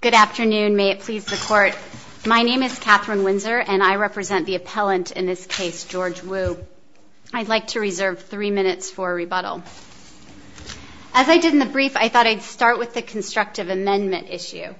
Good afternoon. May it please the Court. My name is Katherine Windsor and I represent the appellant in this case, George Wu. I'd like to reserve three minutes for a rebuttal. As I did in the brief, I thought I'd start with the constructive amendment issue.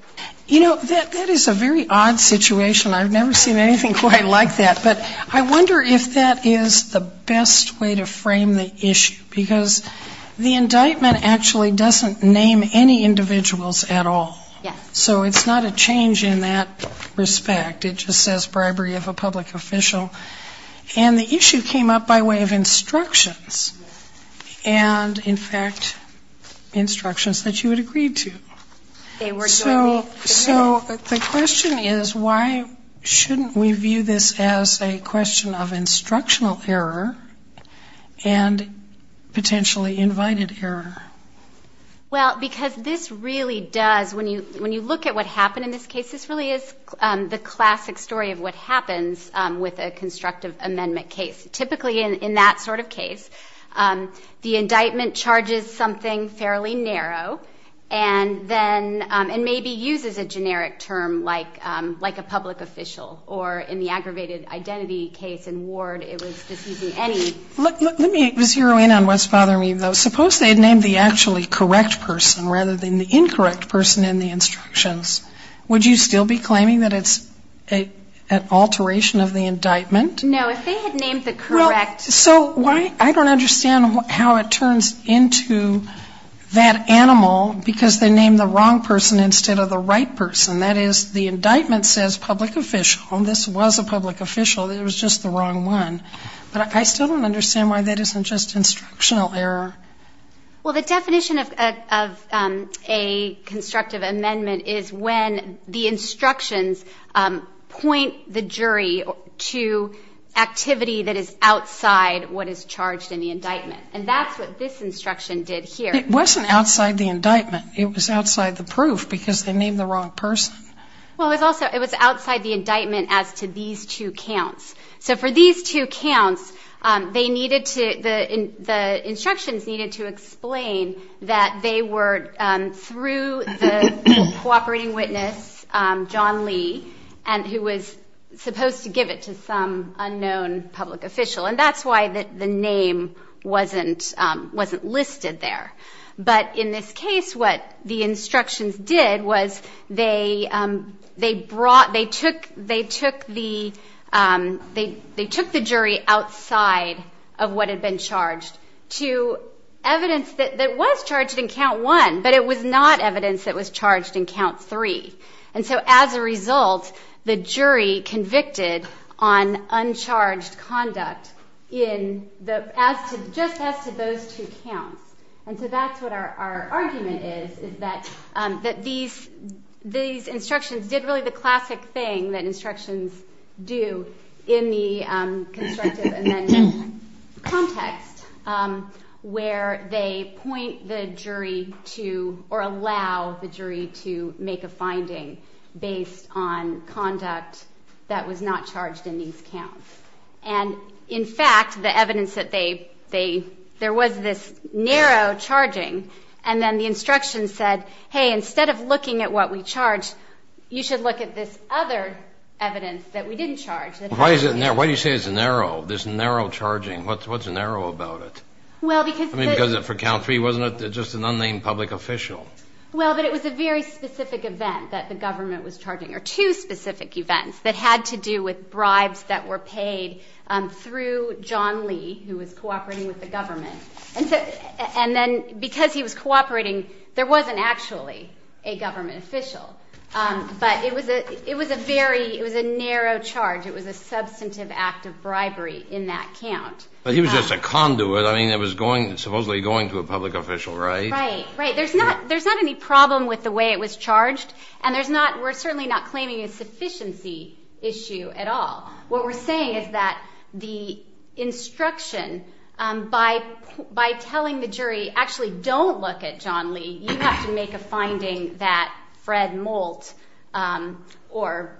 You know, that is a very odd situation. I've never seen anything quite like that. But I wonder if that is the best way to frame the issue. Because the indictment actually doesn't name any individuals at all. Yes. So it's not a change in that respect. It just says bribery of a public official. And the issue came up by way of instructions. And in fact, instructions that you had agreed to. So the question is, why shouldn't we view this as a question of instructional error and potentially invited error? Well, because this really does, when you look at what happened in this case, this really is the classic story of what happens with a constructive amendment case. Typically in that sort of case, the indictment charges something fairly narrow and then maybe uses a generic term like a public official. Or in the aggravated identity case in Ward, it was just using any. Let me zero in on what's bothering me, though. Suppose they had named the actually correct person rather than the incorrect person in the instructions. Would you still be claiming that it's an alteration of the indictment? No. If they had named the correct. So I don't understand how it turns into that animal, because they named the wrong person instead of the right person. That is, the indictment says public official, and this was a public official. It was just the wrong one. But I still don't understand why that isn't just instructional error. Well, the definition of a constructive amendment is when the instructions point the jury to activity that is outside what is charged in the indictment. And that's what this instruction did here. It wasn't outside the indictment. It was outside the proof, because they named the wrong person. Well, it was also, it was outside the indictment as to these two counts. So for these two counts, they needed to, the instructions needed to explain that they were through the cooperating witness, John Lee, and who was supposed to give it to some unknown public official. And that's why the name wasn't listed there. But in this case, what the instructions did was they brought, they took the jury outside of what had been charged to evidence that was charged in count one, but it was not evidence that was charged in count three. And so as a result, the jury convicted on uncharged conduct just as to those two counts. And so that's what our argument is, is that these instructions did really the classic thing that instructions do in the constructive amendment context, where they point the jury to or allow the jury to make a finding based on conduct that was not charged in these counts. And in fact, the evidence that they, there was this narrow charging, and then the instruction said, hey, instead of looking at what we charged, you should look at this other evidence that we didn't charge. Why do you say it's narrow, this narrow charging? What's narrow about it? I mean, because for count three, wasn't it just an unnamed public official? Well, but it was a very specific event that the government was charging, or two specific events that had to do with bribes that were paid through John Lee, who was cooperating with the government. And then because he was cooperating, there wasn't actually a government official. But it was a very, it was a narrow charge. It was a substantive act of bribery in that count. But he was just a conduit. I mean, it was going, supposedly going to a public official, right? Right, right. There's not any problem with the way it was charged, and there's not, we're certainly not claiming a sufficiency issue at all. What we're saying is that the instruction, by telling the jury actually don't look at John Lee, you have to make a finding that Fred Molt or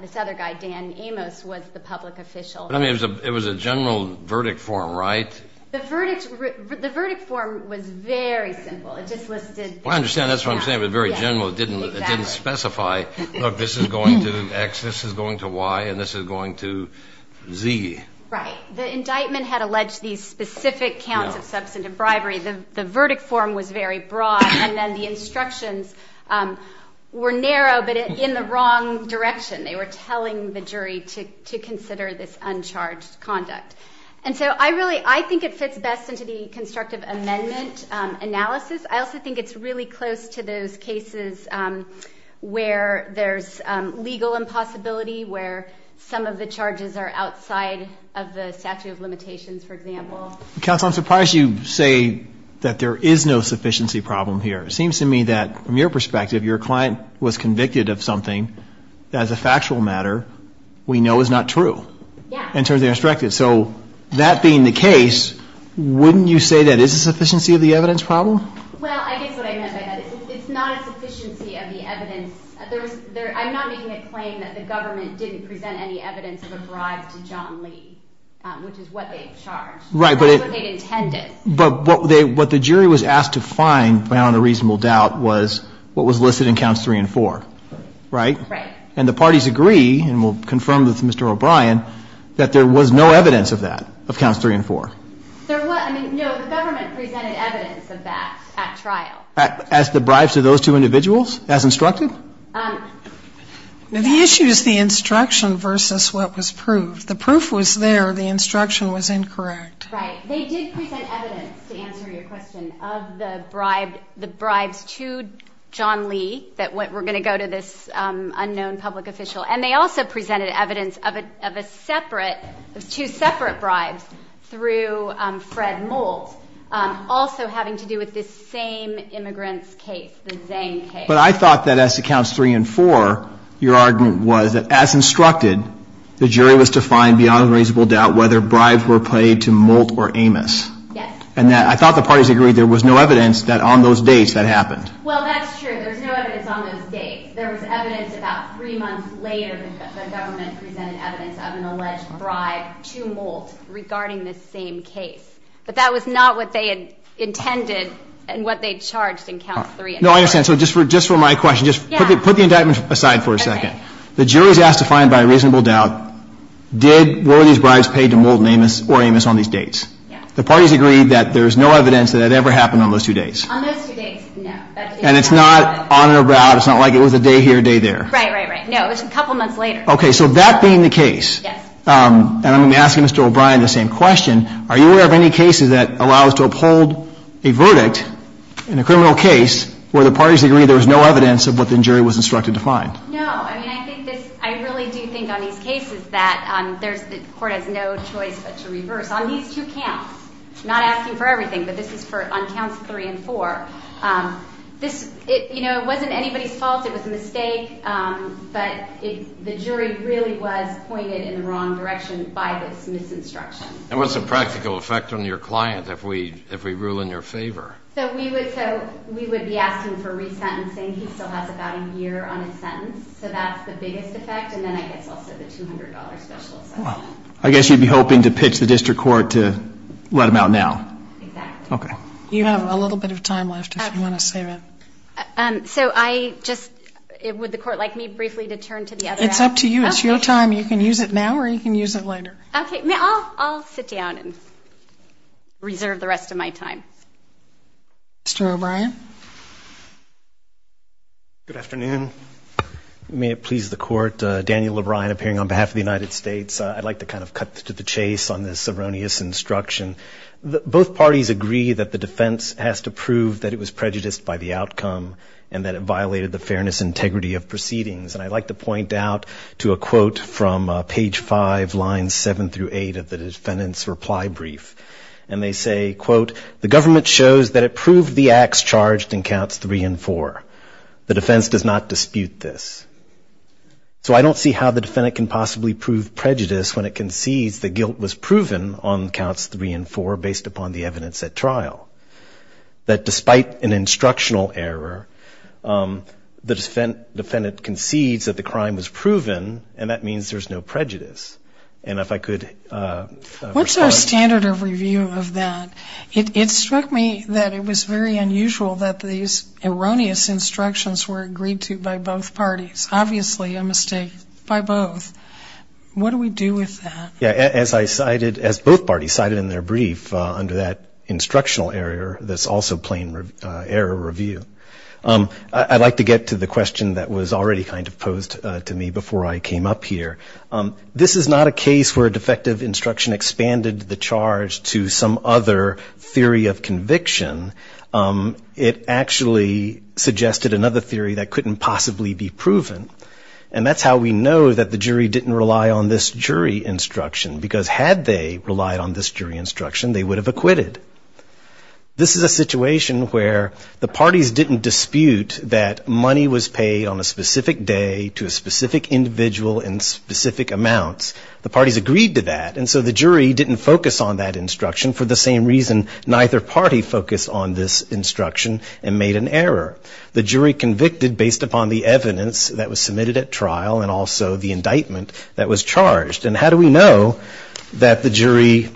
this other guy, Dan Amos, was the public official. I mean, it was a general verdict form, right? The verdict form was very simple. It just listed. I understand. That's what I'm saying. It was very general. It didn't specify, look, this is going to X, this is going to Y, and this is going to Z. Right. The indictment had alleged these specific counts of substantive bribery. The verdict form was very broad, and then the instructions were narrow but in the wrong direction. They were telling the jury to consider this uncharged conduct. And so I really, I think it fits best into the constructive amendment analysis. I also think it's really close to those cases where there's legal impossibility, where some of the charges are outside of the statute of limitations, for example. Counsel, I'm surprised you say that there is no sufficiency problem here. It seems to me that, from your perspective, your client was convicted of something that, as a factual matter, we know is not true. Yeah. In terms of the instructions. So that being the case, wouldn't you say that is a sufficiency of the evidence problem? Well, I guess what I meant by that is it's not a sufficiency of the evidence. I'm not making a claim that the government didn't present any evidence of a bribe to John Lee, which is what they charged. Right. That's what they intended. But what the jury was asked to find, beyond a reasonable doubt, was what was listed in counts three and four. Right? Right. And the parties agree, and we'll confirm with Mr. O'Brien, that there was no evidence of that, of counts three and four. There was. I mean, no, the government presented evidence of that at trial. As the bribes to those two individuals, as instructed? The issue is the instruction versus what was proved. The proof was there. The instruction was incorrect. Right. They did present evidence, to answer your question, of the bribes to John Lee that were going to go to this unknown public official, and they also presented evidence of a separate, of two separate bribes through Fred Moult, also having to do with this same immigrant's case, the Zane case. But I thought that as to counts three and four, your argument was that, as instructed, the jury was to find, beyond a reasonable doubt, whether bribes were paid to Moult or Amos. Yes. And I thought the parties agreed there was no evidence that on those dates that happened. Well, that's true. There's no evidence on those dates. There was evidence about three months later that the government presented evidence of an alleged bribe to Moult regarding this same case. But that was not what they had intended and what they charged in counts three and four. No, I understand. So just for my question, just put the indictment aside for a second. Okay. The jury was asked to find, by a reasonable doubt, did, were these bribes paid to Moult or Amos on these dates? Yes. The parties agreed that there's no evidence that it ever happened on those two dates. On those two dates, no. And it's not on and about. It's not like it was a day here, a day there. Right, right, right. No, it was a couple months later. Okay. So that being the case. Yes. And I'm going to ask Mr. O'Brien the same question. Are you aware of any cases that allow us to uphold a verdict in a criminal case where the parties agreed there was no evidence of what the jury was instructed to find? I mean, I think this, I really do think on these cases that there's, the Court has no choice but to reverse. On these two counts, not asking for everything, but this is for, on counts three and four, this, you know, it wasn't anybody's fault. It was a mistake. But it, the jury really was pointed in the wrong direction by this misinstruction. And what's the practical effect on your client if we, if we rule in your favor? So we would, so we would be asking for resentencing. He still has about a year on his sentence. So that's the biggest effect. And then I guess also the $200 special assessment. I guess you'd be hoping to pitch the District Court to let him out now. Exactly. Okay. You have a little bit of time left if you want to save it. So I just, would the Court like me briefly to turn to the other? It's up to you. It's your time. You can use it now or you can use it later. Okay. I'll sit down and reserve the rest of my time. Mr. O'Brien. Good afternoon. May it please the Court. Daniel O'Brien appearing on behalf of the United States. I'd like to kind of cut to the chase on this erroneous instruction. Both parties agree that the defense has to prove that it was prejudiced by the outcome and that it violated the fairness and integrity of proceedings. And I'd like to point out to a quote from page 5, lines 7 through 8 of the defendant's reply brief. And they say, quote, the government shows that it proved the acts charged in counts 3 and 4. The defense does not dispute this. So I don't see how the defendant can possibly prove prejudice when it concedes the guilt was proven on counts 3 and 4 based upon the evidence at trial. That despite an instructional error, the defendant concedes that the crime was proven and that means there's no prejudice. And if I could. What's our standard of review of that? It struck me that it was very unusual that these erroneous instructions were agreed to by both parties. Obviously a mistake by both. What do we do with that? Yeah, as I cited, as both parties cited in their brief under that instructional error, that's also plain error review. I'd like to get to the question that was already kind of posed to me before I came up here. This is not a case where a defective instruction expanded the charge to some other theory of conviction. It actually suggested another theory that couldn't possibly be proven. And that's how we know that the jury didn't rely on this jury instruction, because had they relied on this jury instruction, they would have acquitted. This is a situation where the parties didn't dispute that money was paid on a specific day to a specific individual in specific amounts. The parties agreed to that, and so the jury didn't focus on that instruction, for the same reason neither party focused on this instruction and made an error. The jury convicted based upon the evidence that was submitted at trial and also the indictment that was charged. And how do we know that the jury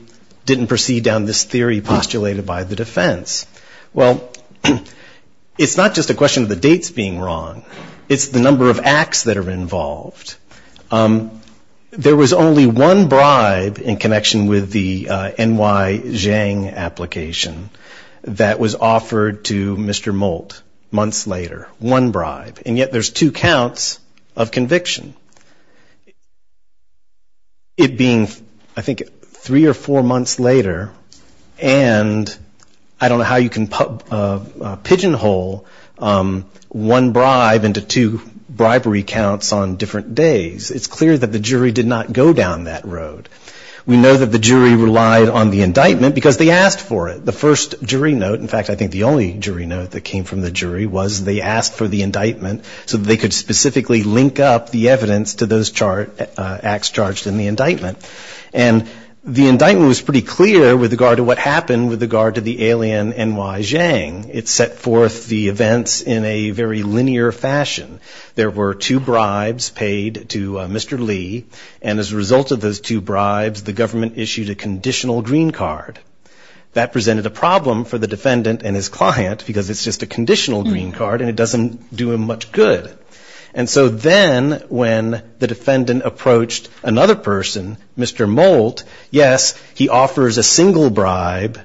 didn't proceed down this theory postulated by the defense? Well, it's not just a question of the dates being wrong. It's the number of acts that are involved. There was only one bribe in connection with the N.Y. Zhang application that was offered to Mr. Moult months later, one bribe. And yet there's two counts of conviction. It being, I think, three or four months later, and I don't know how you can pigeonhole one bribe, into two bribery counts on different days, it's clear that the jury did not go down that road. We know that the jury relied on the indictment because they asked for it. The first jury note, in fact, I think the only jury note that came from the jury was they asked for the indictment so that they could specifically link up the evidence to those acts charged in the indictment. And the indictment was pretty clear with regard to what happened with regard to the alien N.Y. Zhang. It set forth the events in a very linear fashion. There were two bribes paid to Mr. Lee, and as a result of those two bribes, the government issued a conditional green card. That presented a problem for the defendant and his client because it's just a conditional green card and it doesn't do him much good. And so then when the defendant approached another person, Mr. Moult, yes, he offers a single bribe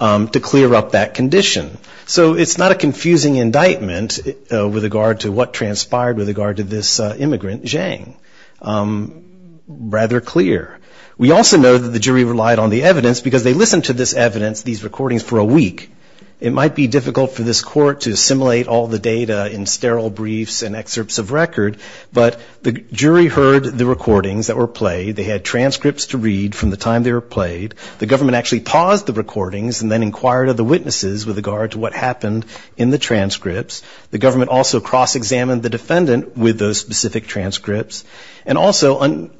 to clear up that condition. So it's not a confusing indictment with regard to what transpired with regard to this immigrant Zhang, rather clear. We also know that the jury relied on the evidence because they listened to this evidence, these recordings, for a week. It might be difficult for this court to assimilate all the data in sterile briefs and excerpts of record, but the jury heard the recordings that were played. They had transcripts to read from the time they were played. The government actually paused the recordings and then inquired of the witnesses with regard to what happened in the transcripts. The government also cross-examined the defendant with those specific transcripts. And also in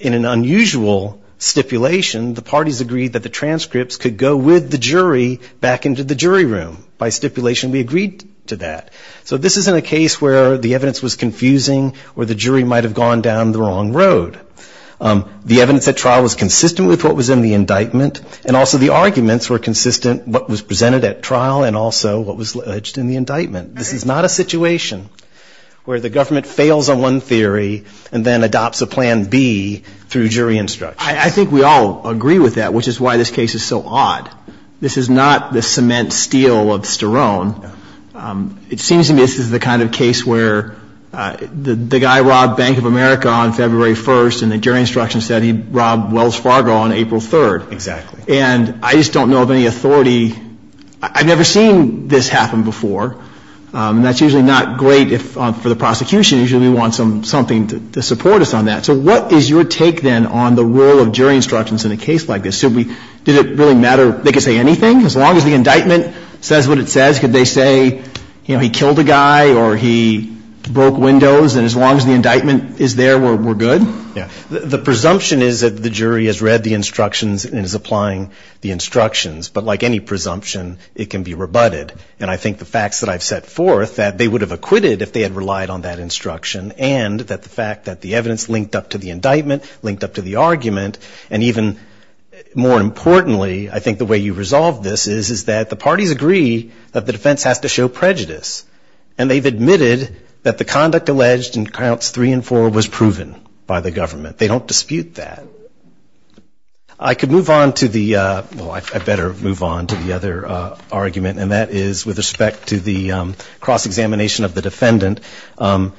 an unusual stipulation, the parties agreed that the transcripts could go with the jury back into the jury room. By stipulation we agreed to that. So this isn't a case where the evidence was confusing or the jury might have gone down the wrong road. The evidence at trial was consistent with what was in the indictment, and also the arguments were consistent with what was presented at trial and also what was alleged in the indictment. This is not a situation where the government fails on one theory and then adopts a plan B through jury instruction. I think we all agree with that, which is why this case is so odd. This is not the cement steel of Sterone. It seems to me this is the kind of case where the guy robbed Bank of America on February 1st and the jury instruction said he robbed Wells Fargo on April 3rd. And I just don't know of any authority. I've never seen this happen before, and that's usually not great for the prosecution. Usually we want something to support us on that. So what is your take, then, on the role of jury instructions in a case like this? Did it really matter they could say anything? As long as the indictment says what it says, could they say he killed a guy or he broke windows? And as long as the indictment is there, we're good? The presumption is that the jury has read the instructions and is applying the instructions. But like any presumption, it can be rebutted. And I think the facts that I've set forth, that they would have acquitted if they had relied on that instruction and that the fact that the evidence linked up to the indictment, linked up to the argument, and even more importantly, I think the way you resolve this is that the parties agree that the defense has to show prejudice. And they've admitted that the conduct alleged in counts three and four was proven by the government. They don't dispute that. I could move on to the other argument, and that is with respect to the cross-examination of the defendant. I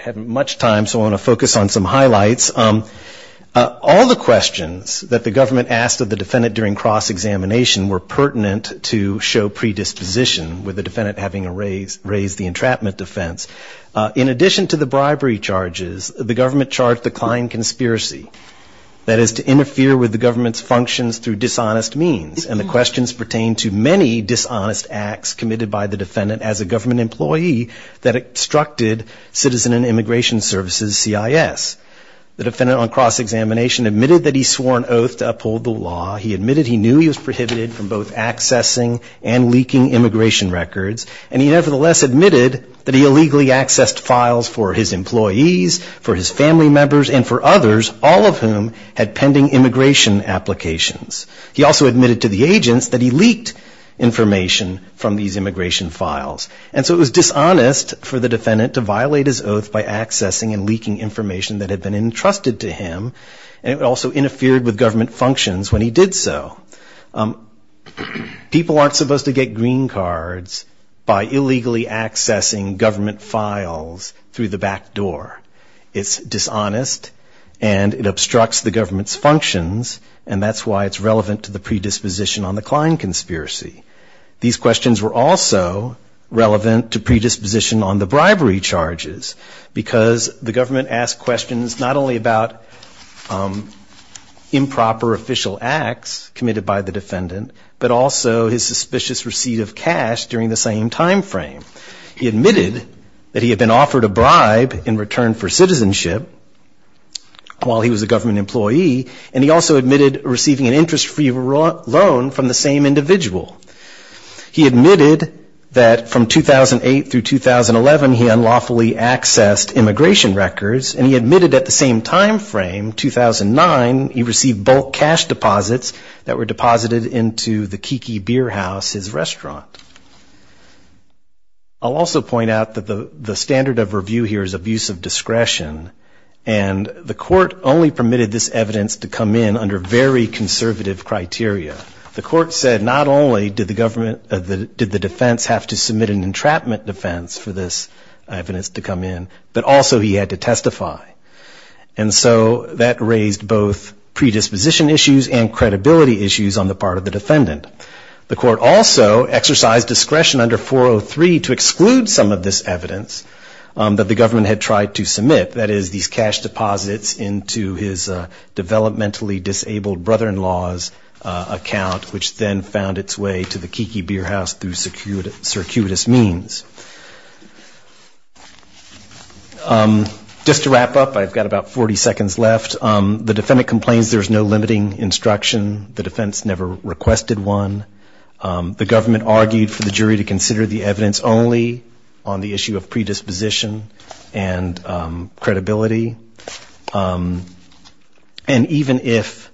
haven't much time, so I want to focus on some highlights. All the questions that the government asked of the defendant during cross-examination were pertinent to show predisposition, with the defendant having raised the entrapment defense. In addition to the bribery charges, the government charged the client conspiracy, that is to interfere with the government's functions through dishonest means, and the questions pertain to many dishonest acts committed by the defendant as a government employee that obstructed Citizen and Immigration Services, CIS. The defendant on cross-examination admitted that he swore an oath to uphold the law. He admitted he knew he was prohibited from both accessing and leaking immigration records, and he nevertheless admitted that he illegally accessed files for his employees, for his family members, and for others, all of whom had pending immigration applications. He also admitted to the agents that he leaked information from these immigration files. And so it was dishonest for the defendant to violate his oath by accessing and leaking information that had been entrusted to him, and it also interfered with government functions when he did so. People aren't supposed to get green cards by illegally accessing government files through the back door. It's dishonest, and it obstructs the government's functions, and that's why it's relevant to the predisposition on the client conspiracy. These questions were also relevant to predisposition on the bribery charges, because the government asked questions not only about improper official acts committed by the defendant, but also his suspicious receipt of cash during the same time frame. He admitted that he had been offered a bribe in return for citizenship while he was a government employee, and he also admitted receiving an interest-free loan from the same individual. He admitted that from 2008 through 2011 he unlawfully accessed immigration records, and he admitted at the same time frame, 2009, he received bulk cash deposits that were deposited into the Kiki Beer House, his restaurant. I'll also point out that the standard of review here is abuse of discretion, and the court only permitted this evidence to come in under very conservative criteria. The court said not only did the defense have to submit an entrapment defense for this evidence to come in, but also he had to testify. And so that raised both predisposition issues and credibility issues on the part of the defendant. The court also exercised discretion under 403 to exclude some of this evidence that the government had tried to submit. That is, these cash deposits into his developmentally disabled brother-in-law's account, which then found its way to the Kiki Beer House through circuitous means. Just to wrap up, I've got about 40 seconds left. The defendant complains there's no limiting instruction. The defense never requested one. The government argued for the jury to consider the evidence only on the issue of predisposition and credibility. And even if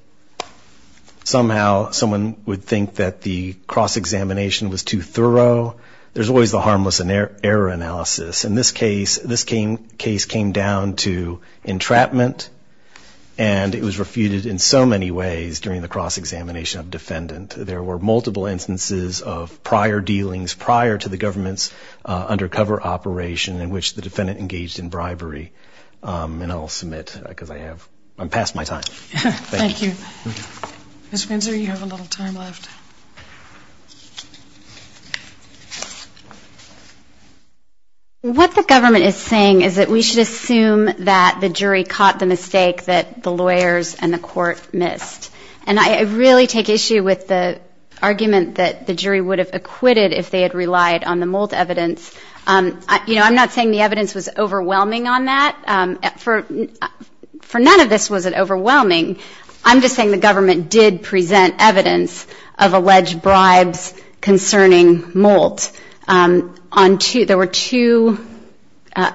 somehow someone would think that the cross-examination was too thorough, there's always the harmless error analysis. And this case came down to entrapment, and it was refuted in so many ways during the cross-examination of defendant. There were multiple instances of prior dealings prior to the government's undercover operation in which the defendant engaged in bribery. And I'll submit, because I'm past my time. Thank you. Ms. Windsor, you have a little time left. What the government is saying is that we should assume that the jury caught the mistake that the lawyers and the court missed. And I really take issue with the argument that the jury would have acquitted if they had relied on the mold evidence. You know, I'm not saying the evidence was overwhelming on that. For none of this was it overwhelming. I'm just saying the government did present evidence of alleged bribes concerning mold. There were two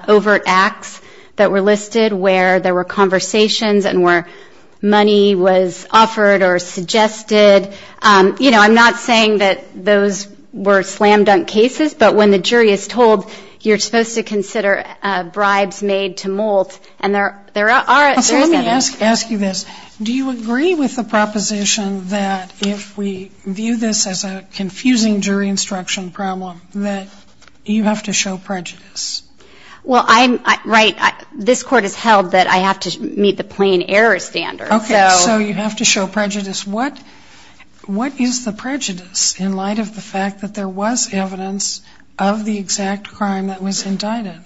overt acts that were listed where there were conversations and where money was offered or suggested. You know, I'm not saying that those were slam-dunk cases, but when the jury is told you're supposed to consider bribes made to account for mold, and there is evidence. So let me ask you this. Do you agree with the proposition that if we view this as a confusing jury instruction problem, that you have to show prejudice? Well, I'm right. This Court has held that I have to meet the plain error standard. Okay, so you have to show prejudice. What is the prejudice in light of the fact that there was evidence of the exact crime that was indicted?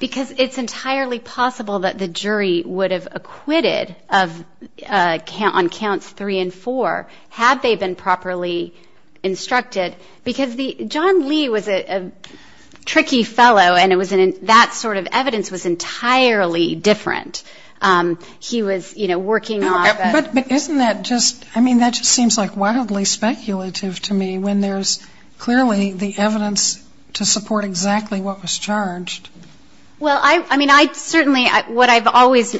Because it's entirely possible that the jury would have acquitted on counts three and four had they been properly instructed. Because John Lee was a tricky fellow, and that sort of evidence was entirely different. He was, you know, working off of the... But isn't that just, I mean, that just seems like wildly speculative to me when there's clearly the evidence to support exactly what was charged. Well, I mean, I certainly, what I've always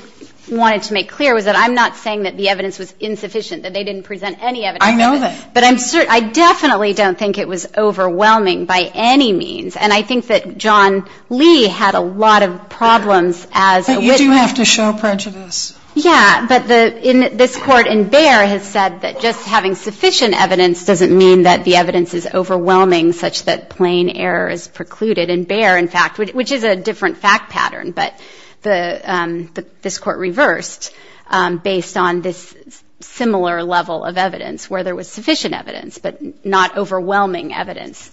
wanted to make clear was that I'm not saying that the evidence was insufficient, that they didn't present any evidence. I know that. But I definitely don't think it was overwhelming by any means. And I think that John Lee had a lot of problems as a witness. But you do have to show prejudice. Yeah, but this Court in Bexar has said that just having sufficient evidence doesn't mean that the evidence is overwhelming such that plain error is precluded. In Bexar, in fact, which is a different fact pattern, but this Court reversed based on this similar level of evidence where there was sufficient evidence. But not overwhelming evidence.